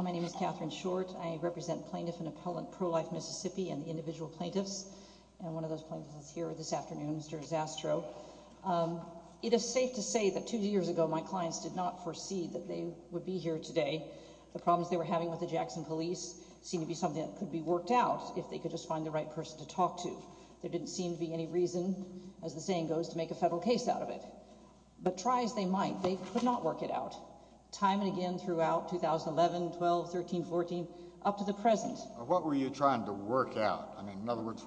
My name is Katherine Short. I represent plaintiff and appellant Pro-Life Mississippi and the individual plaintiffs. And one of those plaintiffs is here this afternoon, Mr. Zastrow. It is safe to say that two years ago my clients did not foresee that they would be here today. The problems they were having with the Jackson police seemed to be something that could be worked out if they could just find the right person to talk to. There didn't seem to be any reason, as the saying goes, to make a federal case out of it. But try as they might, they could not time and again throughout 2011, 12, 13, 14, up to the present. What were you trying to work out? In other words,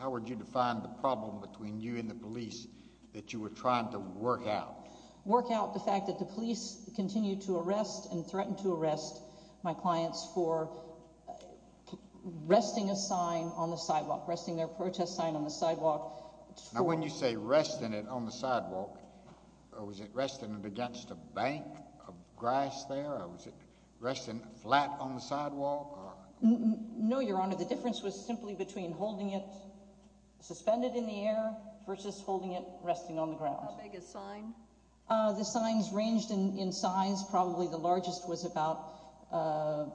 how would you define the problem between you and the police that you were trying to work out? Work out the fact that the police continue to arrest and threaten to arrest my clients for resting a sign on the sidewalk, resting their protest sign on the sidewalk. Now when you say resting it on the sidewalk, was it resting it against a bank of grass there? Was it resting flat on the sidewalk? No, Your Honor. The difference was simply between holding it suspended in the air versus holding it resting on the ground. How big a sign? The signs ranged in size. Probably the largest was about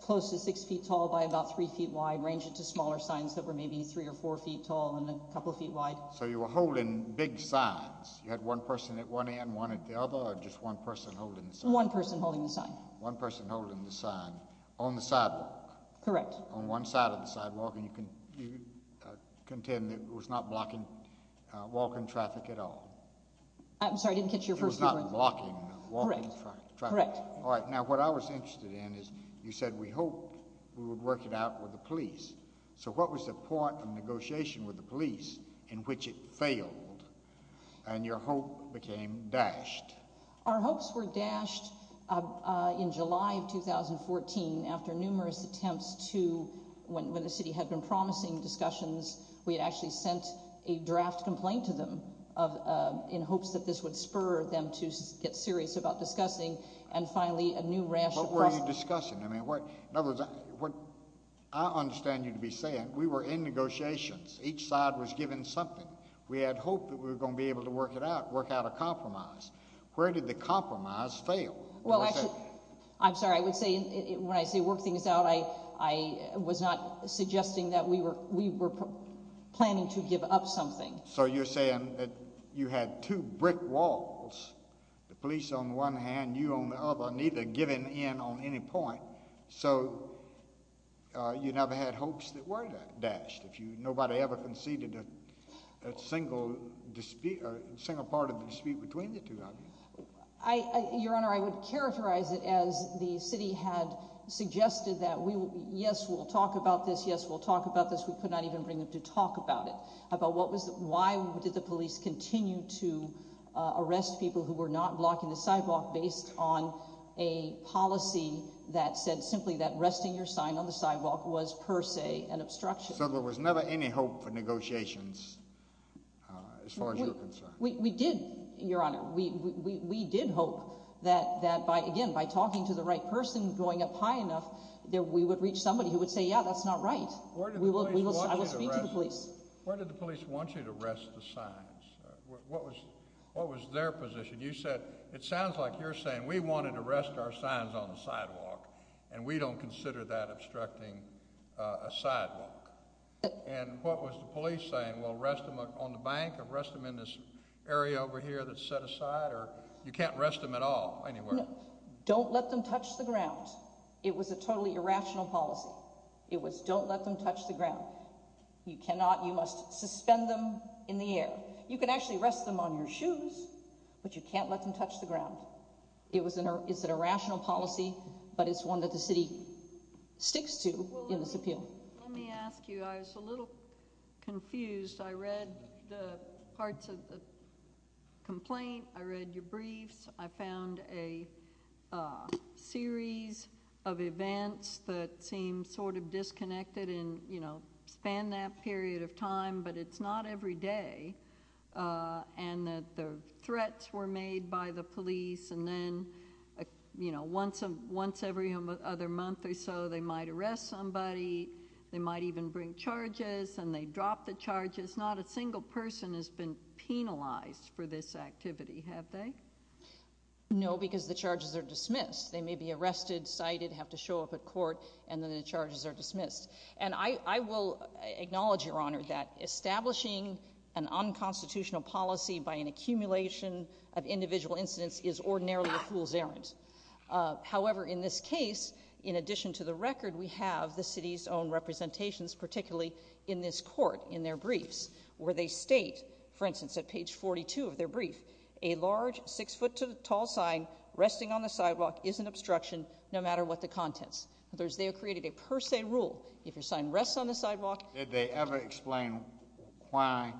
close to six feet tall by about three feet wide, ranging to smaller signs that were maybe three or four feet tall and a couple of feet wide. So you were holding big signs. You had one person at one end, one at the other, or just one person holding the sign? One person holding the sign. One person holding the sign on the sidewalk? Correct. On one side of the sidewalk, and you can contend that it was not blocking walking traffic at all? I'm sorry, I didn't catch your first question. It was not blocking walking traffic? Correct. All right. Now what I was interested in is you said we hoped we would work it out with the police. So what was the point of negotiation with the police in which it failed and your hope became dashed? Our hopes were dashed in July of 2014 after numerous attempts to, when the city had been promising discussions, we had actually sent a draft complaint to them in hopes that this would spur them to get serious about discussing, and finally a new rash of... What were you discussing? I mean, each side was given something. We had hoped that we were going to be able to work it out, work out a compromise. Where did the compromise fail? Well, I'm sorry, I would say when I say work things out, I was not suggesting that we were planning to give up something. So you're saying that you had two brick walls, the police on one hand, you on the other, neither giving in on any point. So you never had hopes that were dashed. Nobody ever conceded a single part of the dispute between the two of you. Your Honor, I would characterize it as the city had suggested that yes, we'll talk about this, yes, we'll talk about this. We could not even bring them to talk about it. About why did the police continue to arrest people who were not blocking the sidewalk based on a policy that said simply that resting your sign on the sidewalk was per se an obstruction. So there was never any hope for negotiations as far as you're concerned? We did, Your Honor. We did hope that by, again, by talking to the right person, going up high enough, that we would reach somebody who would say, yeah, that's not right. I will speak to the police. Where did the police want you to rest the signs? What was what was their position? You said it sounds like you're saying we wanted to rest our signs on the sidewalk, and we don't consider that obstructing a sidewalk. And what was the police saying? We'll rest them on the bank, arrest them in this area over here that's set aside, or you can't rest them at all anywhere? Don't let them touch the ground. It was a totally irrational policy. It was don't let them touch the ground. You cannot, you must suspend them in the air. You can actually rest them on your shoes, but you can't let them touch the ground. It was an, it's an irrational policy, but it's one that the city sticks to in this appeal. Let me ask you, I was a little confused. I read the parts of the complaint, I read your briefs, I found a series of events that seem sort of disconnected and, you know, span that period of time, but it's not every day, and that the threats were made by the police, and then, you know, once every other month or so, they might arrest somebody, they might even bring charges, and they drop the charges. Not a single person has been penalized for this activity, have they? No, because the charges are dismissed. They may be arrested, cited, have to show up at acknowledge, Your Honor, that establishing an unconstitutional policy by an accumulation of individual incidents is ordinarily a fool's errand. However, in this case, in addition to the record, we have the city's own representations, particularly in this court, in their briefs, where they state, for instance, at page 42 of their brief, a large six-foot-tall sign resting on the sidewalk is an obstruction, no matter what the contents. They have created a per se rule. If your sign rests on the sidewalk... Did they ever explain why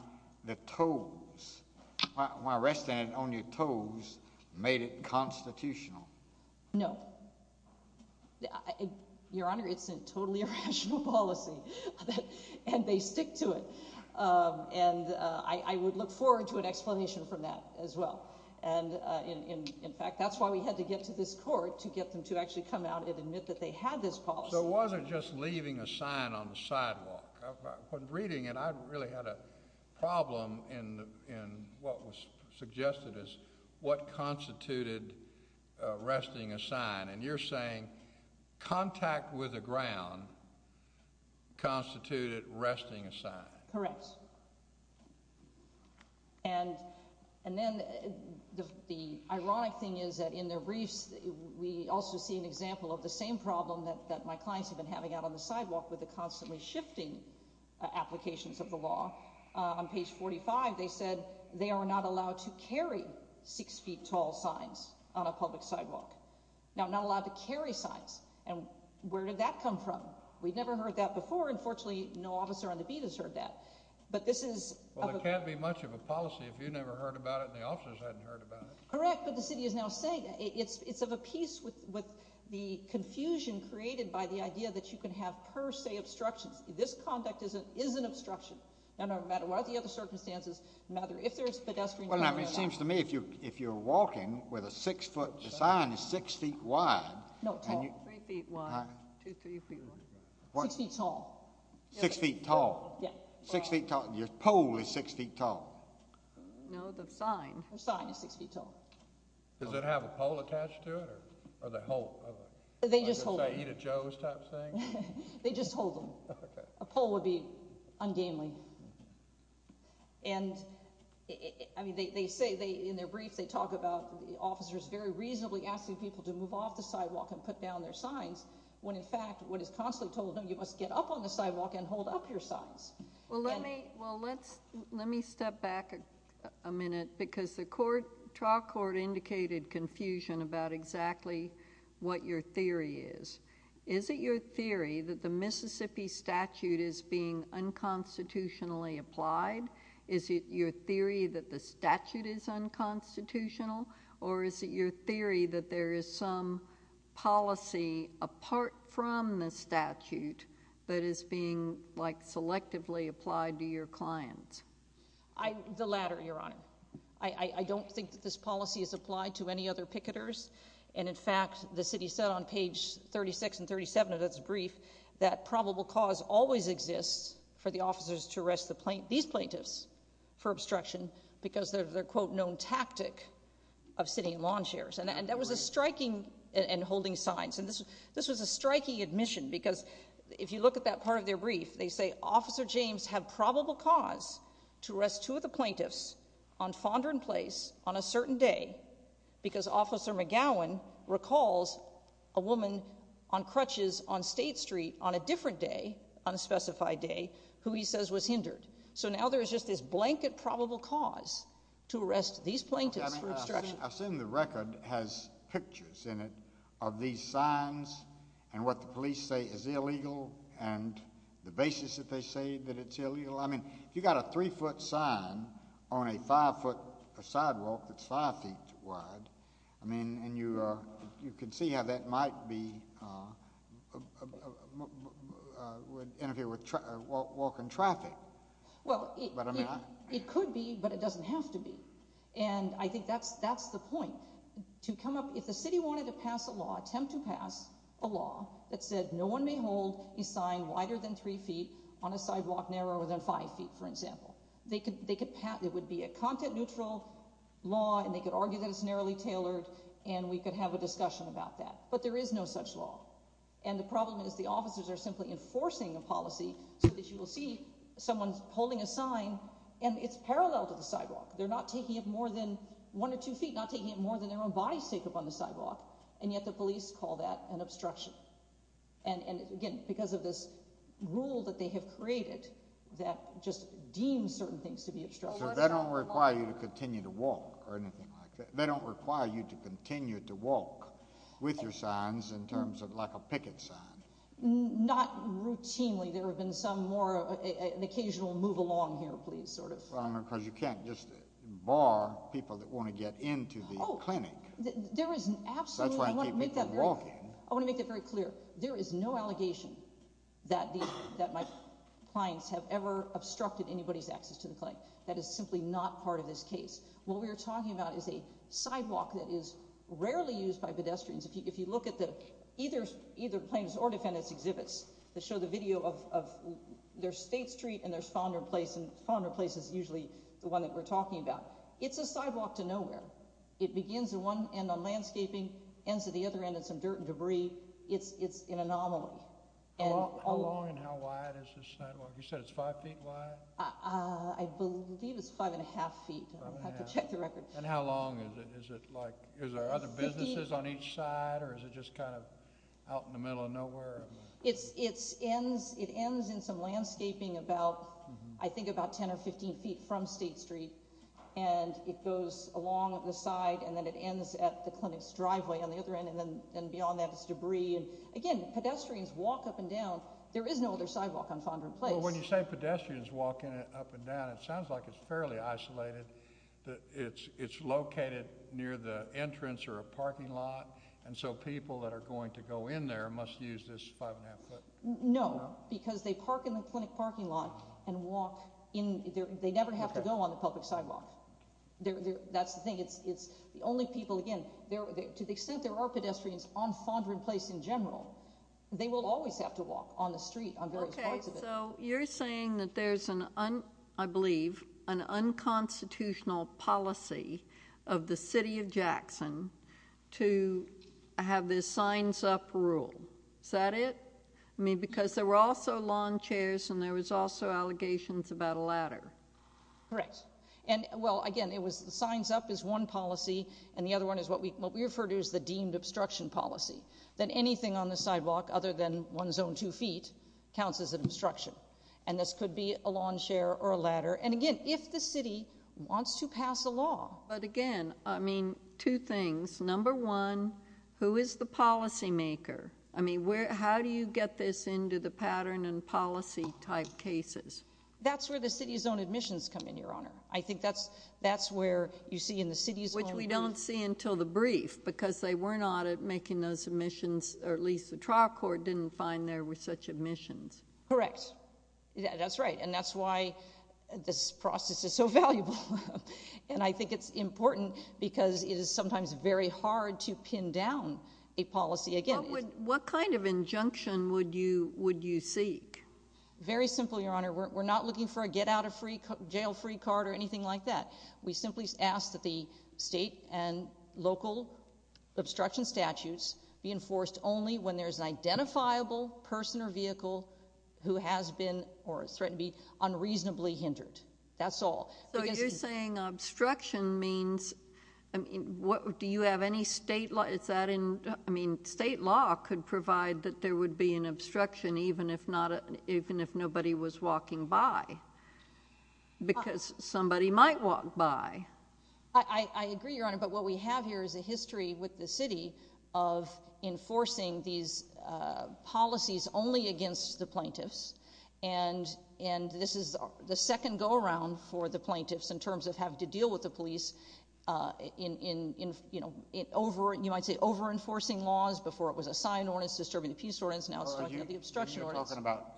the toes, why resting it on your toes made it constitutional? No. Your Honor, it's a totally irrational policy, and they stick to it, and I would look forward to an explanation from that as well, and in fact, that's why we had to get to this court, to get them to actually come out and admit that they had this policy. So it wasn't just leaving a sign on the sidewalk. When reading it, I really had a problem in what was suggested as what constituted resting a sign, and you're saying contact with the ground constituted resting a sign. Correct, and then the ironic thing is that in their briefs, we also see an example of the same problem that my clients have been having out on the sidewalk with the constantly shifting applications of the law. On page 45, they said they are not allowed to carry six-feet-tall signs on a public sidewalk. Now, not allowed to carry signs, and where did that come from? We've never heard that before. Unfortunately, no officer on the beat has heard that, but this is... Well, it can't be much of a policy if you never heard about it and the officers hadn't heard about it. Correct, but the city is now saying it's of a piece with the confusion created by the idea that you can have per se obstructions. This conduct is an obstruction, no matter what the other circumstances, no matter if there's pedestrian... Well, it seems to me if you're walking with a six-foot, the sign is six feet wide... No, tall. Three feet wide, two, three feet wide. Six feet tall. Six feet tall. Yeah. Six feet tall. Your pole is six feet tall. No, the sign. The sign is six feet tall. Does it have a pole attached to it, or they hold... They just hold it. Like a Joe's type thing? They just hold them. Okay. A pole would be ungainly, and I mean, they say in their briefs, they talk about the officers very reasonably asking people to move off the sidewalk and put down their signs, when in fact, what is you must get up on the sidewalk and hold up your signs. Well, let me step back a minute, because the trial court indicated confusion about exactly what your theory is. Is it your theory that the Mississippi statute is being unconstitutionally applied? Is it your theory that the statute is unconstitutional, or is it your theory that there is some policy apart from the statute that is being selectively applied to your clients? The latter, Your Honor. I don't think that this policy is applied to any other picketers, and in fact, the city said on page 36 and 37 of its brief that probable cause always exists for the officers to arrest these plaintiffs for obstruction because of their, quote, known tactic of sitting in lawn chairs, and that was striking and holding signs, and this was a striking admission, because if you look at that part of their brief, they say Officer James had probable cause to arrest two of the plaintiffs on Fondren Place on a certain day because Officer McGowan recalls a woman on crutches on State Street on a different day, on a specified day, who he says was hindered. So now there is just this blanket probable cause to arrest these plaintiffs for obstruction. I've seen the record has pictures in it of these signs and what the police say is illegal, and the basis that they say that it's illegal. I mean, if you've got a three-foot sign on a five-foot sidewalk that's five feet wide, I mean, and you can see how that might be, would interfere with walking traffic. Well, it could be, but it doesn't have to be, and I think that's the point. To come up, if the city wanted to pass a law, attempt to pass a law that said no one may hold a sign wider than three feet on a sidewalk narrower than five feet, for example, they could, it would be a content-neutral law, and they could argue that it's narrowly tailored, and we could have a discussion about that, but there is no such law, and the problem is the officers are simply enforcing a policy so that you will see someone's holding a sign, and it's parallel to the sidewalk. They're not taking it more than one or two feet, not taking it more than their own body's take up on the sidewalk, and yet the police call that an obstruction, and again, because of this rule that they have created that just deems certain things to be obstructions. So they don't require you to continue to walk or anything like that? They don't require you to continue to walk with your signs in terms of like a picket sign? Not routinely. There have been some more, an occasional move along here, please, sort of. Well, I don't know, because you can't just bar people that want to get into the clinic. There is absolutely, I want to make that very clear. There is no allegation that my clients have ever obstructed anybody's access to the clinic. That is simply not part of this case. What we are talking about is a sidewalk that is rarely used by pedestrians. If you look at either plaintiff's or defendant's exhibits that show the video of, there's State Street and there's Fonder Place, and Fonder Place is usually the one that we're talking about. It's a sidewalk to nowhere. It begins at one end on landscaping, ends at the other end in some dirt and debris. It's an anomaly. How long and how wide is this sidewalk? You said it's five feet wide? I believe it's five and a half feet. I'll have to check the each side, or is it just kind of out in the middle of nowhere? It ends in some landscaping about, I think, about 10 or 15 feet from State Street, and it goes along the side, and then it ends at the clinic's driveway on the other end, and then beyond that is debris. Again, pedestrians walk up and down. There is no other sidewalk on Fonder Place. When you say pedestrians walking up and down, you're saying that there's an unconstitutional policy of the City of Jackson to have this signs up rule. Is that it? I mean, because there were also lawn chairs, and there was also allegations about a ladder. Correct. And, well, again, it was the signs up is one policy, and the other one is what we referred to as the deemed obstruction policy, that anything on the sidewalk other than one zone two feet counts as an obstruction, and this could be a lawn chair or a ladder, and again, if the City wants to pass a law. But again, I mean, two things. Number one, who is the policymaker? I mean, how do you get this into the pattern and policy type cases? That's where the city's own admissions come in, Your Honor. I think that's where you see in the city's own... Which we don't see until the brief, because they were not making those admissions, or at least the trial court didn't find there were such admissions. Correct. That's right, and that's why this process is so valuable, and I think it's important because it is sometimes very hard to pin down a policy. Again, what kind of injunction would you seek? Very simple, Your Honor. We're not looking for a get out of jail free card or anything like that. We simply ask that the state and local obstruction statutes be enforced only when there's an identifiable person or vehicle who has been or is threatened to be unreasonably hindered. That's all. So you're saying obstruction means... Do you have any state... Is that in... I mean, state law could provide that there would be an obstruction even if nobody was walking by, because somebody might walk by. I agree, Your Honor, but what we have here is a history with the city of enforcing these policies only against the plaintiffs, and this is the second go-around for the plaintiffs in terms of having to deal with the police in, you might say, over-enforcing laws before it was assigned ordinance, disturbing the peace ordinance, now it's talking about the obstruction ordinance.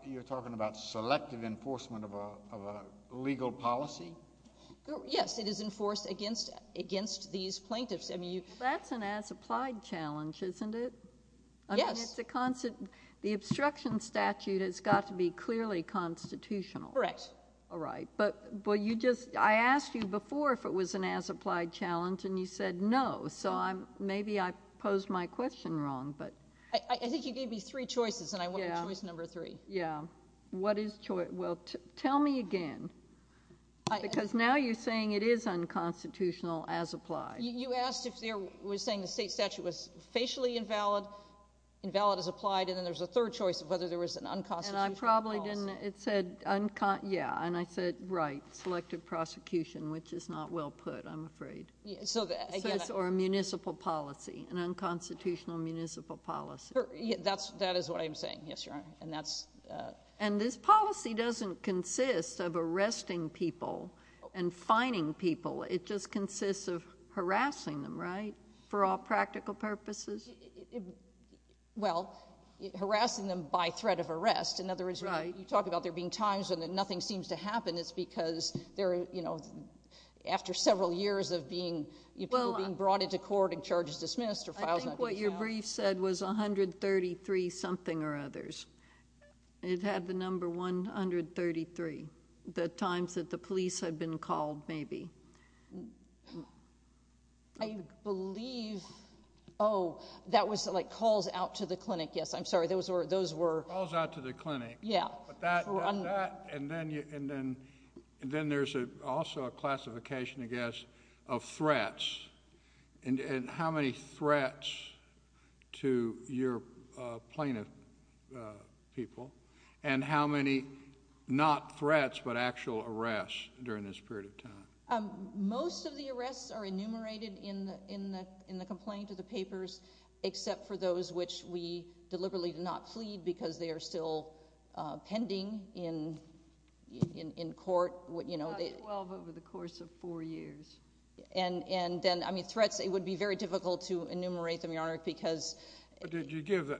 You're talking about selective enforcement of a legal policy? Yes, it is enforced against these plaintiffs. That's an as-applied challenge, isn't it? Yes. I mean, it's a constant... The obstruction statute has got to be clearly constitutional. Correct. All right, but you just... I asked you before if it was an as-applied challenge, and you said no, so maybe I posed my question wrong, but... I think you gave me three choices, and I wanted choice number three. Yeah, what is choice... Well, tell me again, because now you're saying it is unconstitutional as-applied. You asked if there was saying the state statute was facially invalid, invalid as whether there was an unconstitutional policy. And I probably didn't... It said unconst... Yeah, and I said, right, selective prosecution, which is not well put, I'm afraid. Yeah, so... Or a municipal policy, an unconstitutional municipal policy. That is what I'm saying, yes, Your Honor, and that's... And this policy doesn't consist of arresting people and fining people. It just In other words, when you talk about there being times when nothing seems to happen, it's because there are... After several years of being... People being brought into court and charges dismissed or filed... I think what your brief said was 133 something or others. It had the number 133, the times that the police had been called, maybe. I believe... Oh, that was like calls out to the clinic. Yes, I'm sorry. Those were... Those were... Calls out to the clinic. Yeah. But that... And then there's also a classification, I guess, of threats. And how many threats to your plaintiff people, and how many not threats, but actual arrests during this period of time? Most of the arrests are enumerated in the complaint to the papers, except for those which we deliberately did not plead because they are still pending in court. About 12 over the course of four years. And then, I mean, threats, it would be very difficult to enumerate them, Your Honor, because... But did you give...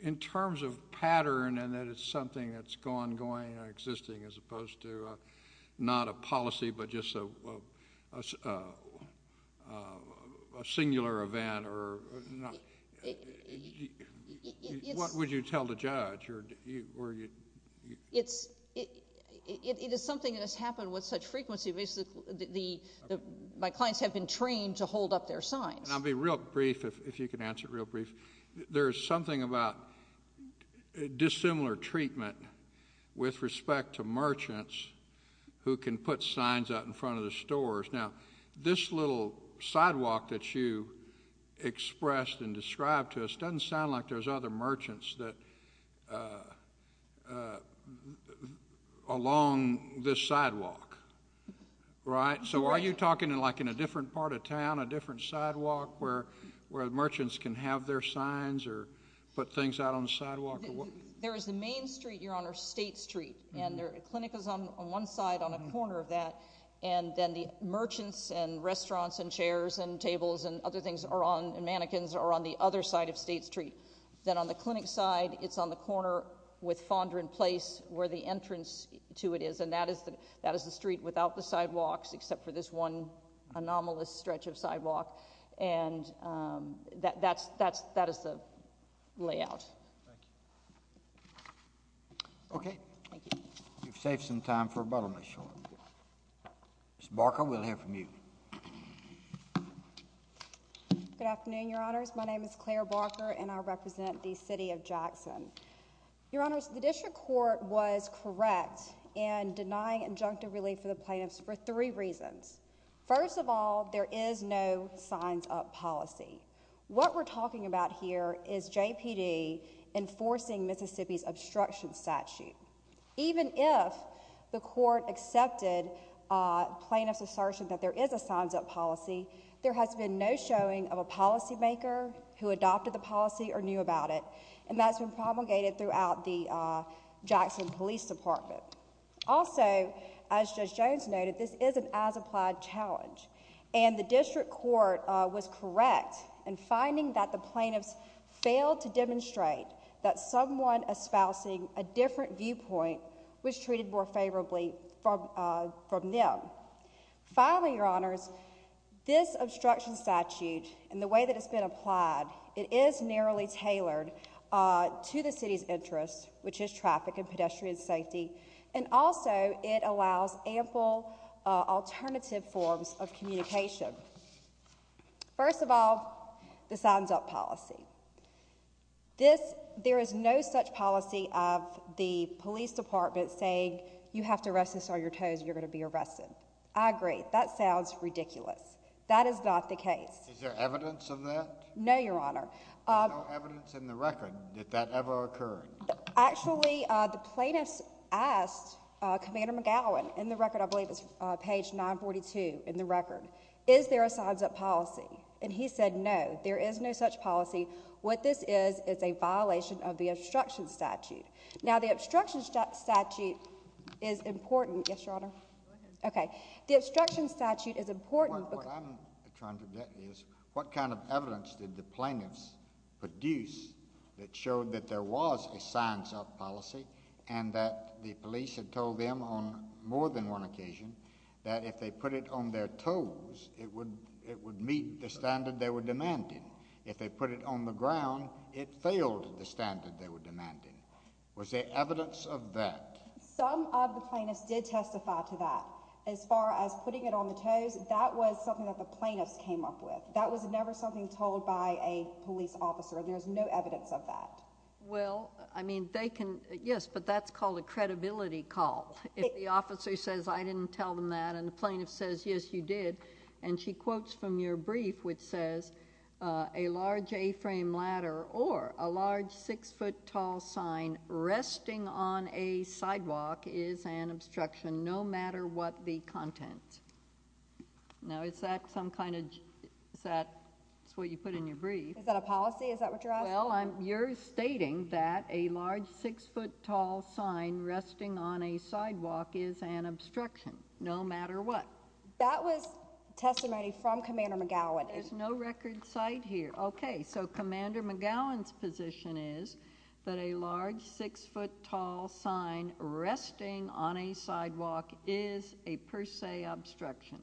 In terms of pattern, and that it's something that's ongoing and existing, as opposed to not a policy, but just a singular event, or... What would you tell the judge, or... It is something that has happened with such frequency. My clients have been trained to hold up their signs. And I'll be real brief, if you can answer it real brief. There is something about dissimilar treatment with respect to merchants who can put signs out in front of the stores. Now, this little sidewalk that you expressed and described to us doesn't sound like there's other merchants that along this sidewalk, right? So are you talking like in a different part of town, a different sidewalk, where merchants can have their signs, or put things out on the sidewalk? There is a main street, Your Honor, State Street. And the clinic is on one side, on a corner of that. And then the merchants, and restaurants, and chairs, and tables, and other things are on, and mannequins are on the other side of State Street. Then on the clinic side, it's on the corner with Fondra in place, where the entrance to it is. And that is the street without the sidewalk. And that is the layout. Thank you. Okay. We've saved some time for a bottomless hole. Ms. Barker, we'll hear from you. Good afternoon, Your Honors. My name is Claire Barker, and I represent the City of Jackson. Your Honors, the district court was correct in denying injunctive relief for the plaintiffs for three reasons. First of all, there is no signs-up policy. What we're talking about here is JPD enforcing Mississippi's obstruction statute. Even if the court accepted plaintiff's assertion that there is a signs-up policy, there has been no showing of a policymaker who adopted the policy or knew about it. And that's been promulgated throughout the challenge. And the district court was correct in finding that the plaintiffs failed to demonstrate that someone espousing a different viewpoint was treated more favorably from them. Finally, Your Honors, this obstruction statute and the way that it's been applied, it is narrowly tailored to the City's interests, which is traffic and pedestrian safety. And also, it allows ample alternative forms of communication. First of all, the signs-up policy. There is no such policy of the police department saying, you have to arrest us on your toes, or you're going to be arrested. I agree. That sounds ridiculous. That is not the case. Is there evidence of that? No, Your Honor. There's no evidence in the record that that ever occurred? Actually, the plaintiffs asked Commander McGowan, in the record, I believe it's page 942 in the record, is there a signs-up policy? And he said, no, there is no such policy. What this is, is a violation of the obstruction statute. Now, the obstruction statute is important. Yes, Your Honor? Go ahead. Okay. The obstruction statute is important. What I'm trying to get at is, what kind of evidence did the plaintiffs produce that showed that there was a signs-up policy and that the police had told them on more than one occasion that if they put it on their toes, it would meet the standard they were demanding. If they put it on the ground, it failed the standard they were demanding. Was there evidence of that? Some of the plaintiffs did testify to that. As far as putting it on the toes, that was something that the plaintiffs were familiar with. That was never something told by a police officer. There's no evidence of that. Well, I mean, they can, yes, but that's called a credibility call. If the officer says, I didn't tell them that, and the plaintiff says, yes, you did, and she quotes from your brief, which says, a large A-frame ladder or a large six-foot tall sign resting on a sidewalk is an obstruction no matter what the content. Now, is that some kind of, is that what you put in your brief? Is that a policy? Is that what you're asking? Well, you're stating that a large six-foot tall sign resting on a sidewalk is an obstruction no matter what. That was testimony from Commander McGowan. There's no record cite here. Okay, so Commander McGowan's position is that a large six-foot tall sign resting on a sidewalk is a per se obstruction.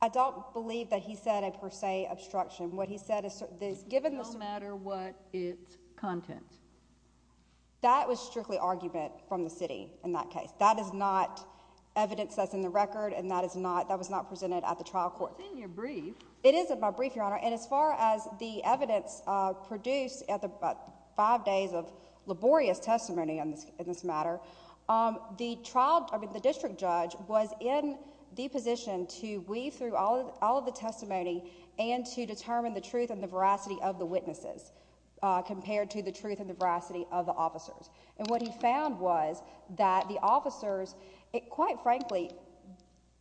I don't believe that he said a per se obstruction. What he said is, given this. No matter what its content. That was strictly argument from the city in that case. That is not evidence that's in the record, and that is not, that was not presented at the trial court. It's in your brief. It is in my brief, Your Honor, and as far as the evidence produced at the five days of laborious testimony in this matter, the trial, I mean the district judge was in the position to weave through all of the testimony and to determine the truth and the veracity of the witnesses compared to the truth and the veracity of the officers, and what he found was that the officers, quite frankly,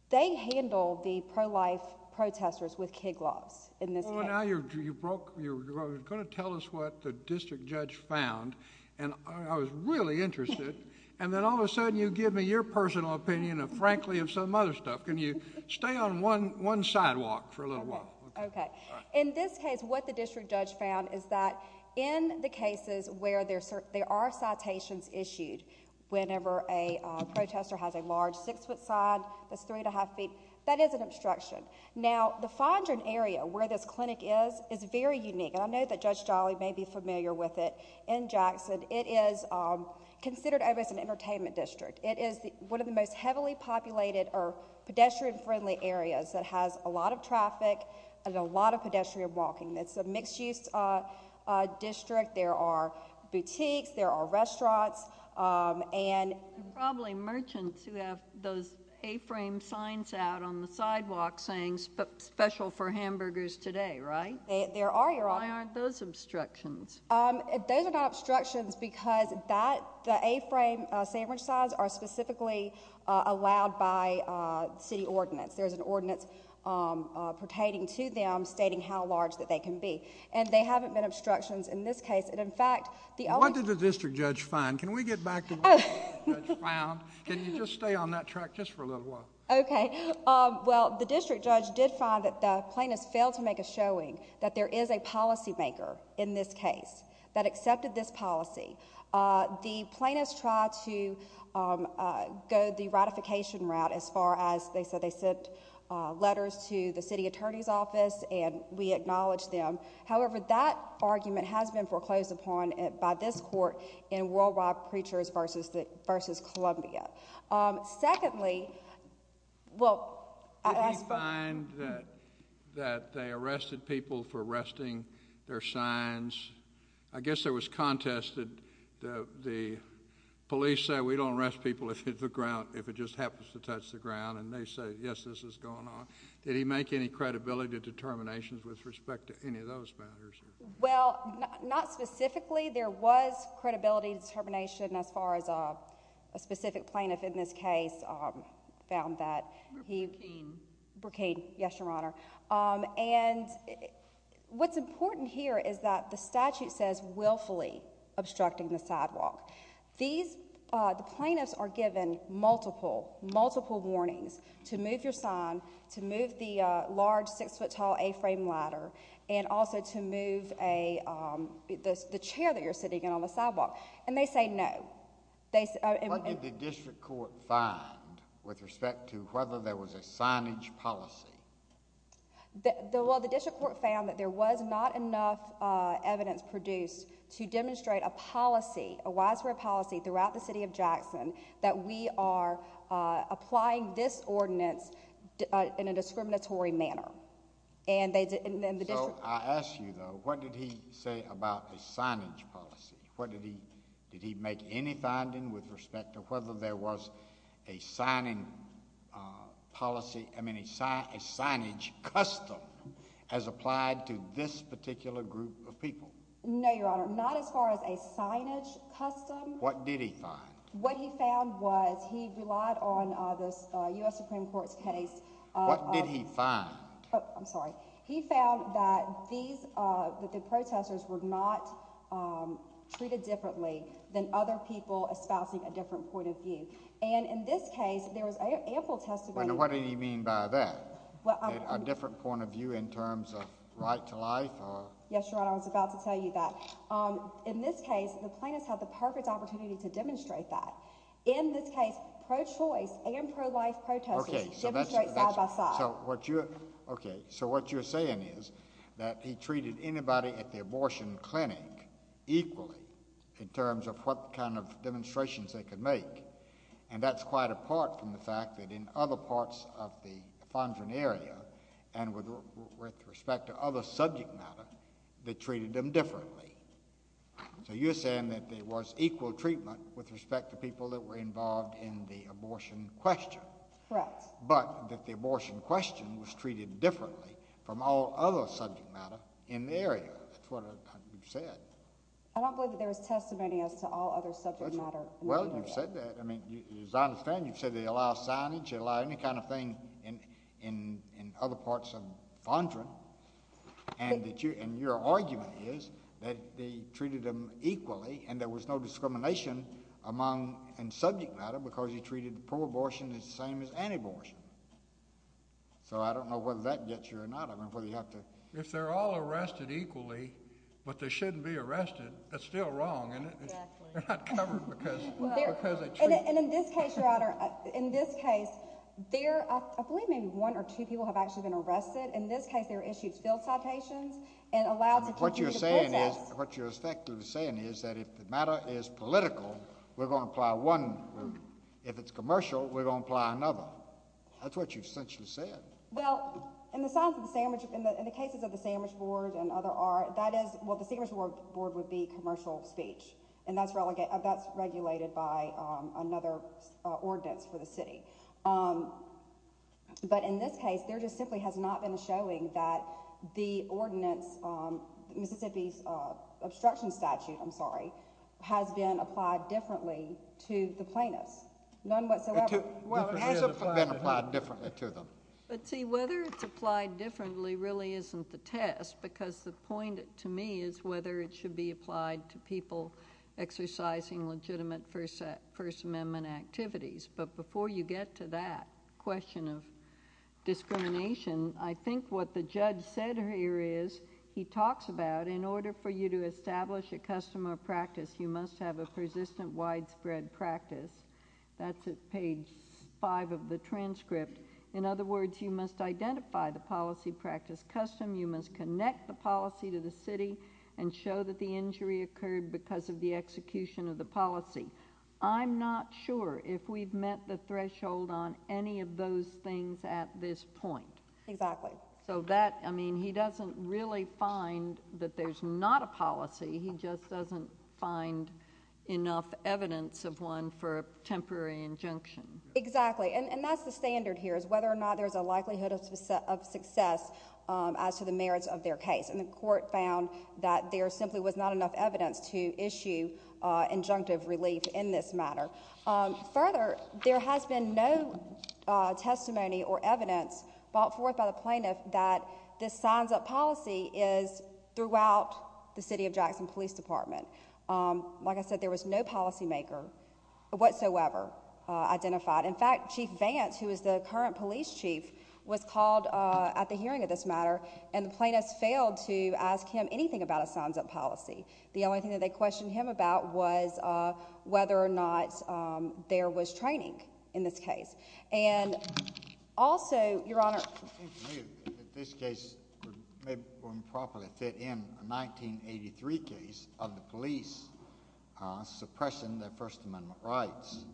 they handled the pro-life protesters with kid gloves in this case. Now you're going to tell us what the district judge found, and I was really interested, and then all of a sudden you give me your personal opinion of frankly of some other stuff. Can you stay on one sidewalk for a little while? Okay. In this case, what the district judge found is that in the cases where there are citations issued whenever a protester has a large six-foot sign that's three and a half feet, that is an obstruction. Now, the Fondren area, where this clinic is, is very unique, and I know that Judge Jolly may be familiar with it in Jackson. It is considered as an entertainment district. It is one of the most heavily populated or pedestrian-friendly areas that has a lot of traffic and a lot of pedestrian walking. It's a mixed-use district. There are boutiques. There are restaurants, and... A-frame signs out on the sidewalk saying special for hamburgers today, right? There are, Your Honor. Why aren't those obstructions? Those are not obstructions because the A-frame sandwich signs are specifically allowed by city ordinance. There's an ordinance pertaining to them stating how large that they can be, and they haven't been obstructions in this case, and in fact, the only... What did the district judge find? Can we get back to what the district judge found? Can you just stay on that track just for a little while? Okay. Well, the district judge did find that the plaintiffs failed to make a showing that there is a policymaker in this case that accepted this policy. The plaintiffs tried to go the ratification route as far as they said they sent letters to the city attorney's office, and we acknowledged them. However, that argument has been foreclosed upon by this court in Worldwide Preachers v. Columbia. Secondly... Did he find that they arrested people for arresting their signs? I guess there was contest that the police said, we don't arrest people if it just happens to touch the ground, and they said, yes, this is going on. Did he make any credibility determinations with respect to any of those? Well, not specifically. There was credibility determination as far as a specific plaintiff in this case found that he... Burkeen. Burkeen. Yes, Your Honor. And what's important here is that the statute says willfully obstructing the sidewalk. The plaintiffs are given multiple, multiple warnings to move your sign, to move the large six-foot-tall A-frame ladder, and also to move the chair that you're sitting in on the sidewalk, and they say no. What did the district court find with respect to whether there was a signage policy? Well, the district court found that there was not enough evidence produced to demonstrate a policy, a widespread policy throughout the city of Jackson that we are applying this ordinance in a discriminatory manner, and the district... So, I ask you, though, what did he say about a signage policy? What did he... Did he make any finding with respect to whether there was a signing policy... I mean, a signage custom as applied to this particular group of people? No, Your Honor. Not as far as a signage custom. What did he find? What he found was he relied on U.S. Supreme Court's case... What did he find? Oh, I'm sorry. He found that the protesters were not treated differently than other people espousing a different point of view, and in this case, there was ample testimony... And what did he mean by that? A different point of view in terms of right to life or... Yes, Your Honor. I was about to tell you that. In this case, the plaintiffs had the perfect opportunity to demonstrate that. In this case, pro-choice and pro-life protesters... Okay, so that's... Demonstrate side by side. So, what you're... Okay, so what you're saying is that he treated anybody at the abortion clinic equally in terms of what kind of demonstrations they could make, and that's quite apart from the fact that in other parts of the Fondren area and with respect to other subject matter, they treated them differently. So, you're saying that there was equal treatment with respect to people that were involved in the abortion question... Correct. But that the abortion question was treated differently from all other subject matter in the area. That's what you said. I don't believe that there was testimony as to all other subject matter... Well, you've said that. I mean, as I understand, you've said they allow signage, any kind of thing in other parts of Fondren, and your argument is that they treated them equally and there was no discrimination among subject matter because he treated pro-abortion the same as anti-abortion. So, I don't know whether that gets you or not. I don't know whether you have to... If they're all arrested equally, but they shouldn't be arrested, that's still wrong, isn't it? They're not covered because they treat... And in this case, Your Honor, in this case, there... I believe maybe one or two people have actually been arrested. In this case, they were issued field citations and allowed... What you're saying is... What you're effectively saying is that if the matter is political, we're going to apply one. If it's commercial, we're going to apply another. That's what you've essentially said. Well, in the signs of the sandwich... in the cases of the sandwich board and other art, that is... well, the sandwich board would be commercial speech, and that's regulated by another ordinance for the city. But in this case, there just simply has not been showing that the ordinance, Mississippi's obstruction statute, I'm sorry, has been applied differently to the plaintiffs, none whatsoever. Well, it has been applied differently to them. But see, whether it's applied differently really isn't the test because the point to me is whether it should be applied to people exercising legitimate First Amendment activities. But before you get to that question of discrimination, I think what the judge said here is he talks about in order for you to establish a custom or practice, you must have a persistent widespread practice. That's at page five of the transcript. In other words, you must identify the policy practice custom. You must connect the policy to the city and show that the injury occurred because of the execution of the policy. I'm not sure if we've met the threshold on any of those things at this point. So that... I mean, he doesn't really find that there's not a policy. He just doesn't find enough evidence of one for a temporary injunction. Exactly. And that's the standard here is whether or not there's a likelihood of success as to the merits of their case. And the court found that there simply was not enough evidence to issue injunctive relief in this matter. Further, there has been no testimony or evidence brought forth by the plaintiff that this signs-up policy is throughout the city of Jackson Police Department. Like I said, there was no policymaker whatsoever identified. In fact, Chief Vance, who is the current police chief, was called at the hearing of this matter, and the plaintiffs failed to ask him anything about a signs-up policy. The only thing that they questioned him about was whether or not there was training in this case. And also, Your Honor... In this case, maybe we can properly fit in a 1983 case of the police suppressing their First Amendment rights.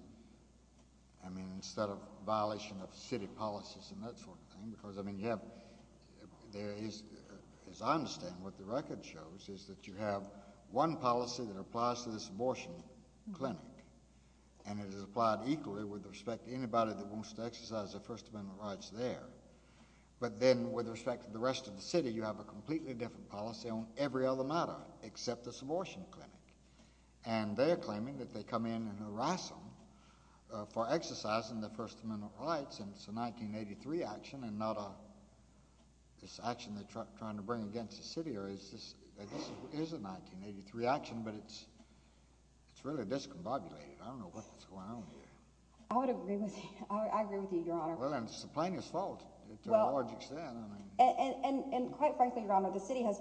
I mean, instead of violation of city policies and that sort of thing, because, I mean, you have... there is... as I understand, what the record shows is that you have one policy that applies to this abortion clinic, and it is applied equally with respect to anybody that wants to exercise their First Amendment rights there. But then, with respect to the rest of the city, you have a completely different policy on every other matter except this abortion clinic. And they're claiming that they come in and harass them for exercising their First Amendment rights, and it's a 1983 action and not a... this action they're trying to bring against the city, or is this... this is a 1983 action, but it's... it's really discombobulated. I don't know what is going on here. I would agree with you. I agree with you, Your Honor. Well, and it's the plaintiff's fault to a large extent. And quite frankly, Your Honor, the city has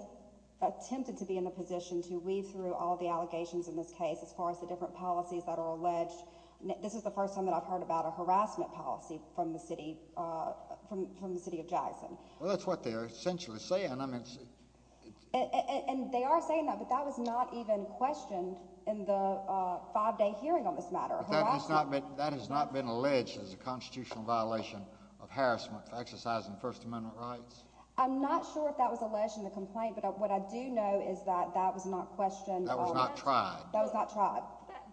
attempted to be in a position to weave through all the allegations in this case as far as the different policies that are alleged. This is the first time that I've heard about a harassment policy from the city... from the city of Jackson. Well, that's what they're essentially saying. I mean, it's... And they are saying that, but that was not even questioned in the five-day hearing on this matter. But that has not been... that has not been alleged as a constitutional violation of harassment for exercising First Amendment rights? I'm not sure if that was alleged in the complaint, but what I do know is that that was not questioned That was not tried. That was not tried.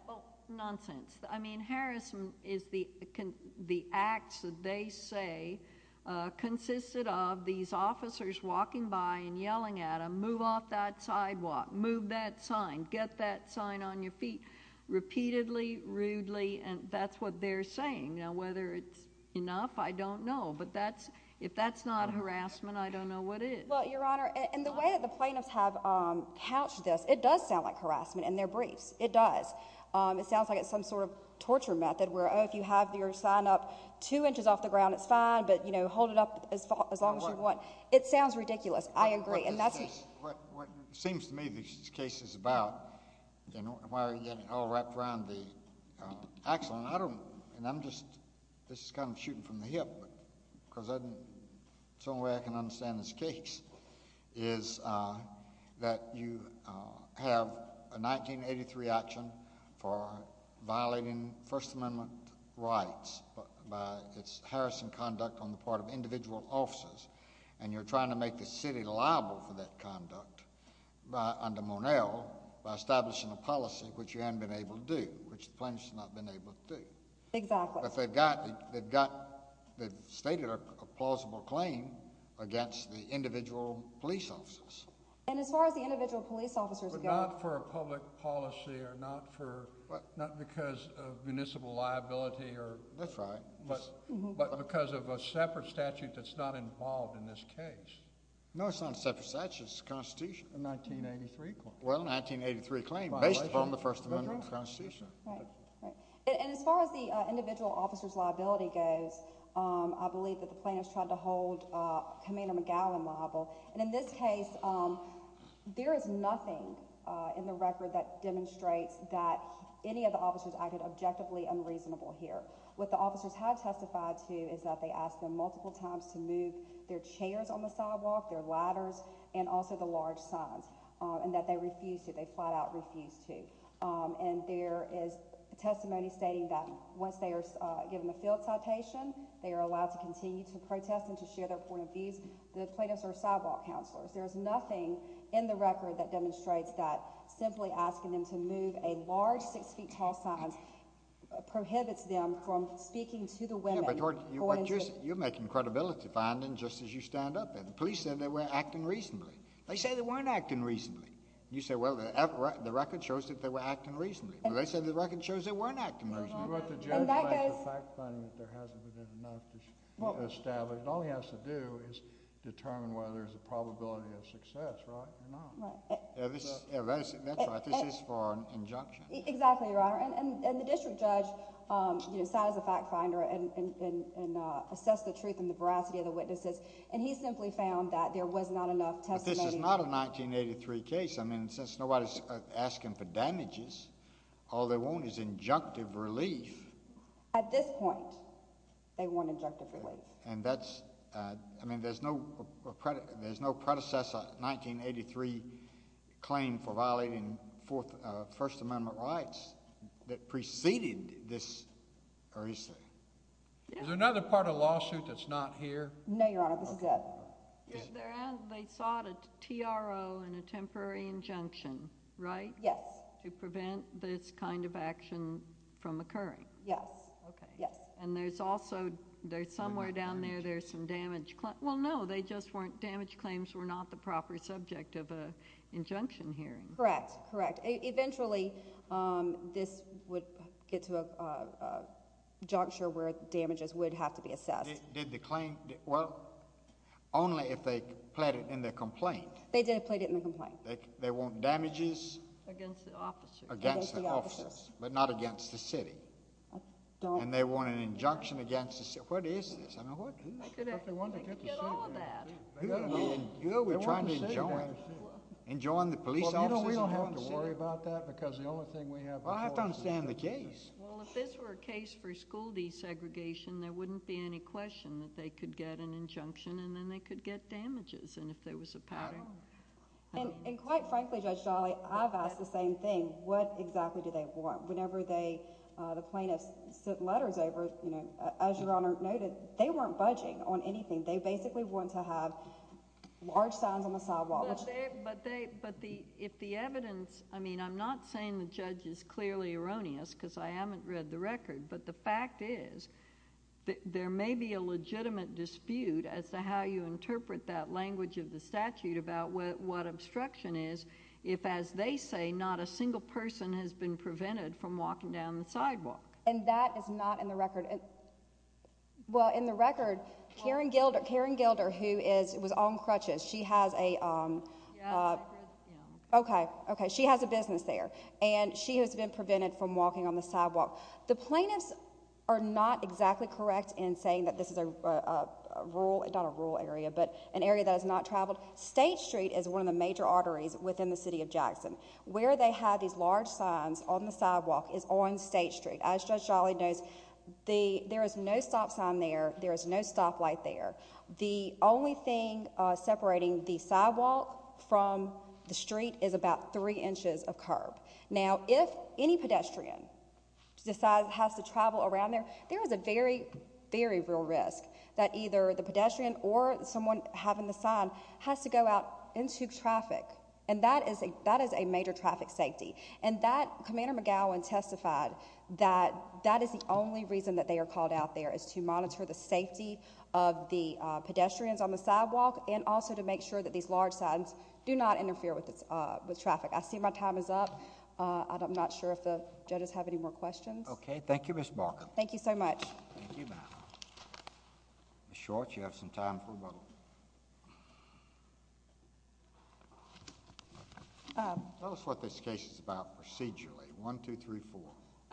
Well, nonsense. I mean, harassment is the... the acts that they say consisted of these officers walking by and yelling at them, move off that sidewalk, move that sign, get that sign on your feet, repeatedly, rudely. And that's what they're saying. Now, whether it's enough, I don't know. But that's... if that's not harassment, I don't know what is. Well, Your Honor, and the way that the plaintiffs have couched this, it does sound like harassment in their briefs. It does. It sounds like it's some sort of torture method where, oh, if you have your sign up two inches off the ground, it's fine. But, you know, hold it up as far... as long as you want. It sounds ridiculous. I agree. And that's... What seems to me this case is about, you know, why are you getting all wrapped around the axel? And I don't... and I'm just... this is kind of shooting from the hip, but... because the only way I can understand this case is that you have a 1983 action for violating First Amendment rights by... it's harassing conduct on the part of individual officers. And you're trying to make the city liable for that conduct under Monell by establishing a policy, which you haven't been able to do, which the plaintiffs have not been able to do. Exactly. But they've got... they've got... they've stated a plausible claim against the individual police officers. And as far as the individual police officers... But not for a public policy or not for... What? Not because of municipal liability or... That's right. But... but because of a separate statute that's not involved in this case. No, it's not a separate statute. It's the Constitution. A 1983 claim. Well, a 1983 claim based upon the First Amendment of the Constitution. Right, right. And as far as the individual officers' liability goes, I believe that the plaintiffs tried to hold Commander McGowan liable. And in this case, there is nothing in the record that demonstrates that any of the officers acted objectively unreasonable here. What the officers have testified to is that they asked them multiple times to move their chairs on the sidewalk, their ladders, and also the large signs. And that they refused to. They flat out refused to. And there is testimony stating that once they are given a field citation, they are allowed to continue to protest and to share their point of views. The plaintiffs are sidewalk counselors. There is nothing in the record that demonstrates that simply asking them to move a large, six-feet-tall sign prohibits them from speaking to the women. Yeah, but you're making credibility findings just as you stand up there. The police said they were acting reasonably. They say they weren't acting reasonably. You say, well, the record shows that they were acting reasonably. Well, they said the record shows they weren't acting reasonably. But the judge made the fact finding that there hasn't been enough to establish. All he has to do is determine whether there's a probability of success, right? You're not. Right. That's right. This is for an injunction. Exactly, Your Honor. And the district judge, you know, sat as a fact finder and assessed the truth and the veracity of the witnesses. And he simply found that there was not enough testimony. But this is not a 1983 case. I mean, since nobody's asking for damages, all they want is injunctive relief. At this point, they want injunctive relief. And that's, I mean, there's no predecessor, 1983 claim for violating First Amendment rights that preceded this. Is there another part of the lawsuit that's not here? No, Your Honor, this is it. They sought a TRO and a temporary injunction, right? Yes. To prevent this kind of action from occurring. Yes. Okay. Yes. And there's also, there's somewhere down there, there's some damage. Well, no, they just weren't, damage claims were not the proper subject of an injunction hearing. Correct. Correct. Eventually, this would get to a juncture where damages would have to be assessed. Did the claim, well, only if they plead it in the complaint. They did plead it in the complaint. They want damages. Against the officers. Against the officers. But not against the city. And they want an injunction against the city. What is this? I mean, what is this? They could get all of that. You know, we're trying to enjoin, enjoin the police officers. We don't have to worry about that because the only thing we have. I have to understand the case. Well, if this were a case for school desegregation, there wouldn't be any question that they could get an injunction and then they could get damages. And if there was a pattern. And quite frankly, Judge Dolley, I've asked the same thing. What exactly do they want? Whenever they, the plaintiff's letters over, you know, as your Honor noted, they weren't budging on anything. They basically want to have large signs on the sidewalk. But they, but the, if the evidence, I mean, I'm not saying the judge is clearly erroneous because I haven't read the record, but the fact is there may be a legitimate dispute as to how you interpret that language of the statute about what, what obstruction is if, as they say, not a single person has been prevented from walking down the sidewalk. And that is not in the record. Well, in the record, Karen Gilder, Karen Gilder, who is, was on crutches. She has a. Okay. Okay. She has a business there. And she has been prevented from walking on the sidewalk. The plaintiffs are not exactly correct in saying that this is a rural, not a rural area, but an area that has not traveled. State Street is one of the major arteries within the city of Jackson. Where they have these large signs on the sidewalk is on State Street. As Judge Dolley knows, the, there is no stop sign there. There is no stoplight there. The only thing separating the sidewalk from the street is about three inches of curb. Now, if any pedestrian decides has to travel around there, there is a very, very real risk that either the pedestrian or someone having the sign has to go out into traffic. And that is a, that is a major traffic safety. And that Commander McGowan testified that that is the only reason that they are called out there is to monitor the safety of the pedestrians on the sidewalk and also to make sure that these large signs do not interfere with traffic. I see my time is up. I'm not sure if the judges have any more questions. Okay. Thank you, Ms. Barker. Thank you so much. Thank you, ma'am. Ms. Short, you have some time for a vote. Tell us what this case is about procedurally. One, two, three, four.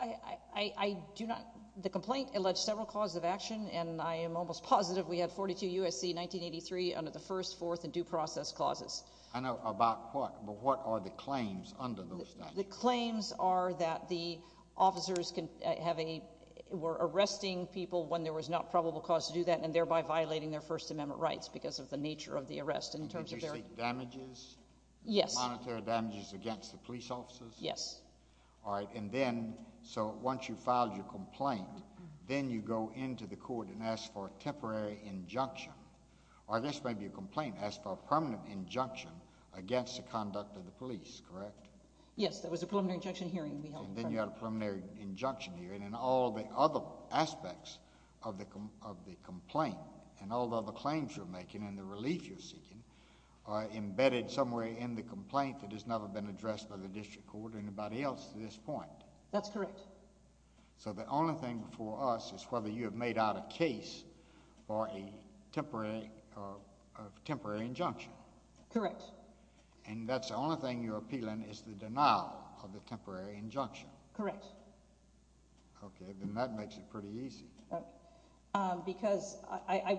I do not, the complaint alleged several causes of action, and I am almost positive we had 42 U.S.C. 1983 under the first, fourth, and due process clauses. I know about what, but what are the claims under those statutes? The claims are that the officers can have a, were arresting people when there was not probable cause to do that, and thereby violating their First Amendment rights because of the nature of the arrest in terms of their— Did you see damages? Yes. Monetary damages against the police officers? Yes. All right, and then, so once you filed your complaint, then you go into the court and ask for a temporary injunction, or I guess maybe a complaint, ask for a permanent injunction against the conduct of the police, correct? Yes, that was a preliminary injunction hearing we held. And then you had a preliminary injunction hearing, and all the other aspects of the complaint and all the other claims you're making and the relief you're seeking are embedded somewhere in the complaint that has never been addressed by the district court or anybody else to this point. That's correct. So the only thing for us is whether you have made out a case for a temporary injunction. Correct. And that's the only thing you're appealing is the denial of the temporary injunction? Correct. Okay, then that makes it pretty easy. Because I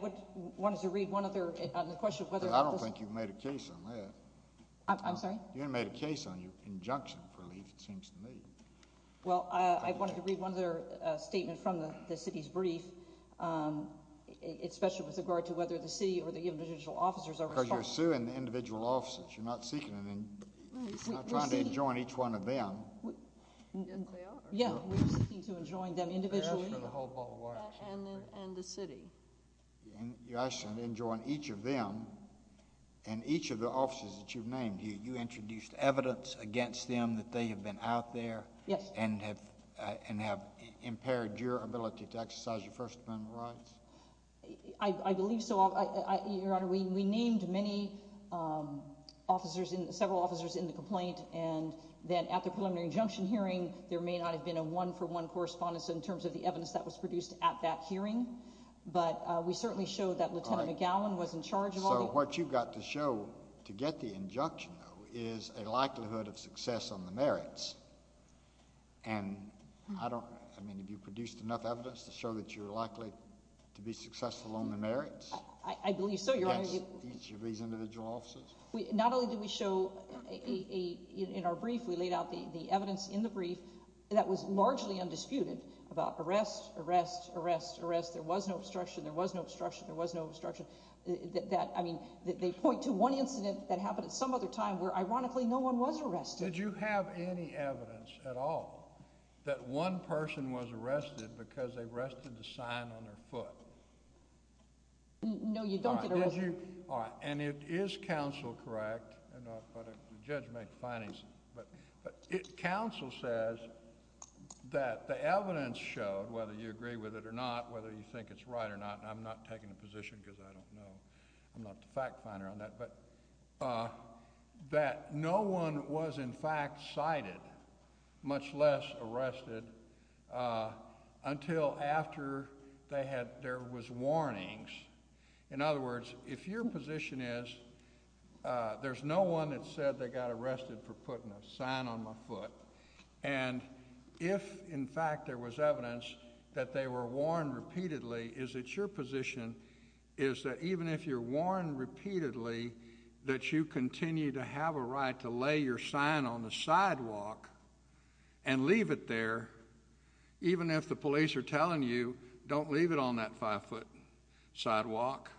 wanted to read one other, on the question of whether— I don't think you've made a case on that. I'm sorry? You haven't made a case on your injunction for relief, it seems to me. Well, I wanted to read one other statement from the city's brief, especially with regard to whether the city or the individual officers are responsible— Because you're suing the individual officers. You're not seeking, you're not trying to enjoin each one of them. Yes, they are. Yeah, you're seeking to enjoin them individually. And the city. You introduced evidence against them that they have been out there. Yes. And have impaired your ability to exercise your First Amendment rights? I believe so. Your Honor, we named many officers, several officers in the complaint. And then at the preliminary injunction hearing, there may not have been a one-for-one correspondence in terms of the evidence that was produced at that hearing. So what you've got to show to get the injunction, though, is a likelihood of success on the merits. And I don't—I mean, have you produced enough evidence to show that you're likely to be successful on the merits? I believe so, Your Honor. Against each of these individual officers? Not only did we show in our brief, we laid out the evidence in the brief that was largely undisputed about arrest, arrest, arrest, arrest. There was no obstruction. There was no obstruction. There was no obstruction. That—I mean, they point to one incident that happened at some other time where, ironically, no one was arrested. Did you have any evidence at all that one person was arrested because they rested the sign on their foot? No, you don't get arrested. All right. And it is counsel, correct? I don't know if the judge made the findings, but counsel says that the evidence showed, whether you agree with it or not, whether you think it's right or not. I'm not taking a position because I don't know. I'm not the fact finder on that. But that no one was, in fact, cited, much less arrested, until after they had—there was warnings. In other words, if your position is there's no one that said they got arrested for putting a sign on my foot, and if, in fact, there was evidence that they were warned repeatedly, is that your position is that even if you're warned repeatedly that you continue to have a right to lay your sign on the sidewalk and leave it there, even if the police are telling you, don't leave it on that five-foot sidewalk,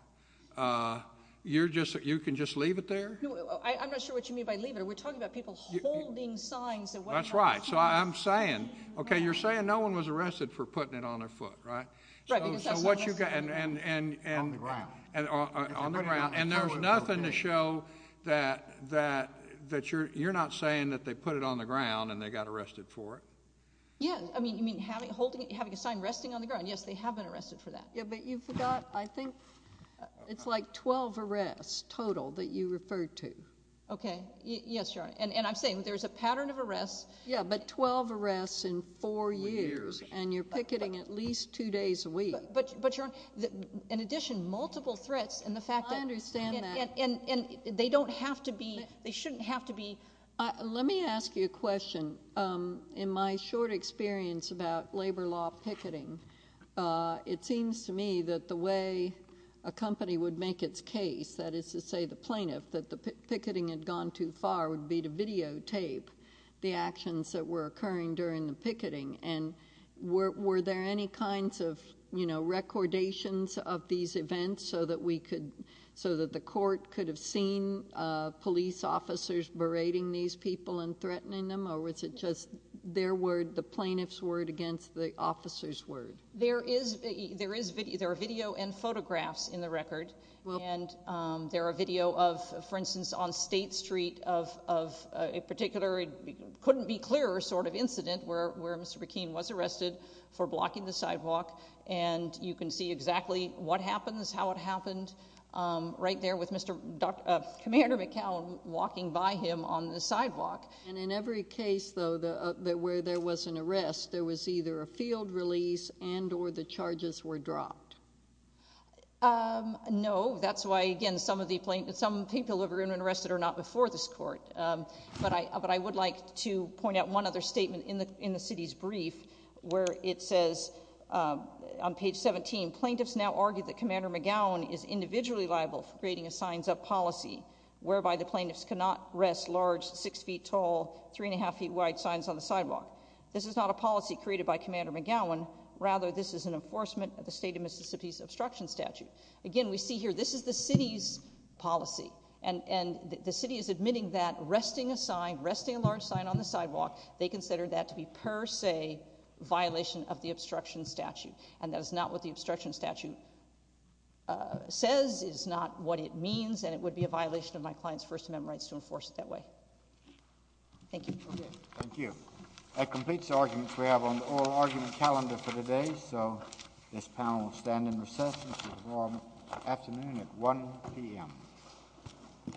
you're just—you can just leave it there? No, I'm not sure what you mean by leave it. We're talking about people holding signs— That's right. So I'm saying—okay, you're saying no one was arrested for putting it on their foot, right? Right, because that's— So what you got— On the ground. On the ground. And there's nothing to show that you're not saying that they put it on the ground and they got arrested for it. Yeah, I mean, you mean holding—having a sign resting on the ground? Yes, they have been arrested for that. Yeah, but you forgot, I think it's like 12 arrests total that you referred to. Okay. Yes, Your Honor. And I'm saying there's a pattern of arrests— Yeah, but 12 arrests in four years. And you're picketing at least two days a week. But, Your Honor, in addition, multiple threats and the fact that— I understand that. And they don't have to be—they shouldn't have to be— Let me ask you a question. In my short experience about labor law picketing, it seems to me that the way a company would make its case, that is to say the plaintiff, that the picketing had gone too far would be to videotape the actions that were occurring during the picketing. And were there any kinds of, you know, recordations of these events so that we could—so that the court could have seen police officers berating these people and threatening them? Or was it just their word, the plaintiff's word, against the officer's word? There is—there are video and photographs in the record. And there are video of, for instance, on State Street of a particular—couldn't be clearer sort of incident where Mr. McKean was arrested for blocking the sidewalk. And you can see exactly what happens, how it happened right there with Mr.—Commander McCallum walking by him on the sidewalk. And in every case, though, where there was an arrest, there was either a field release and or the charges were dropped? No. That's why, again, some of the plaintiffs—some people who have been arrested are not before this court. But I would like to point out one other statement in the city's brief where it says, on page 17, plaintiffs now argue that Commander McGowan is individually liable for creating a signs-up policy whereby the plaintiffs cannot rest large six-feet-tall, three-and-a-half-feet-wide signs on the sidewalk. This is not a policy created by Commander McGowan. Rather, this is an enforcement of the state of Mississippi's obstruction statute. Again, we see here this is the city's policy. And the city is admitting that resting a sign, resting a large sign on the sidewalk, they consider that to be per se violation of the obstruction statute. And that is not what the obstruction statute says, is not what it means, and it would be a violation of my client's First Amendment rights to enforce it that way. Thank you. Thank you. That completes the arguments we have on the oral argument calendar for today. So this panel will stand in recess until tomorrow afternoon at 1 p.m. Thank you.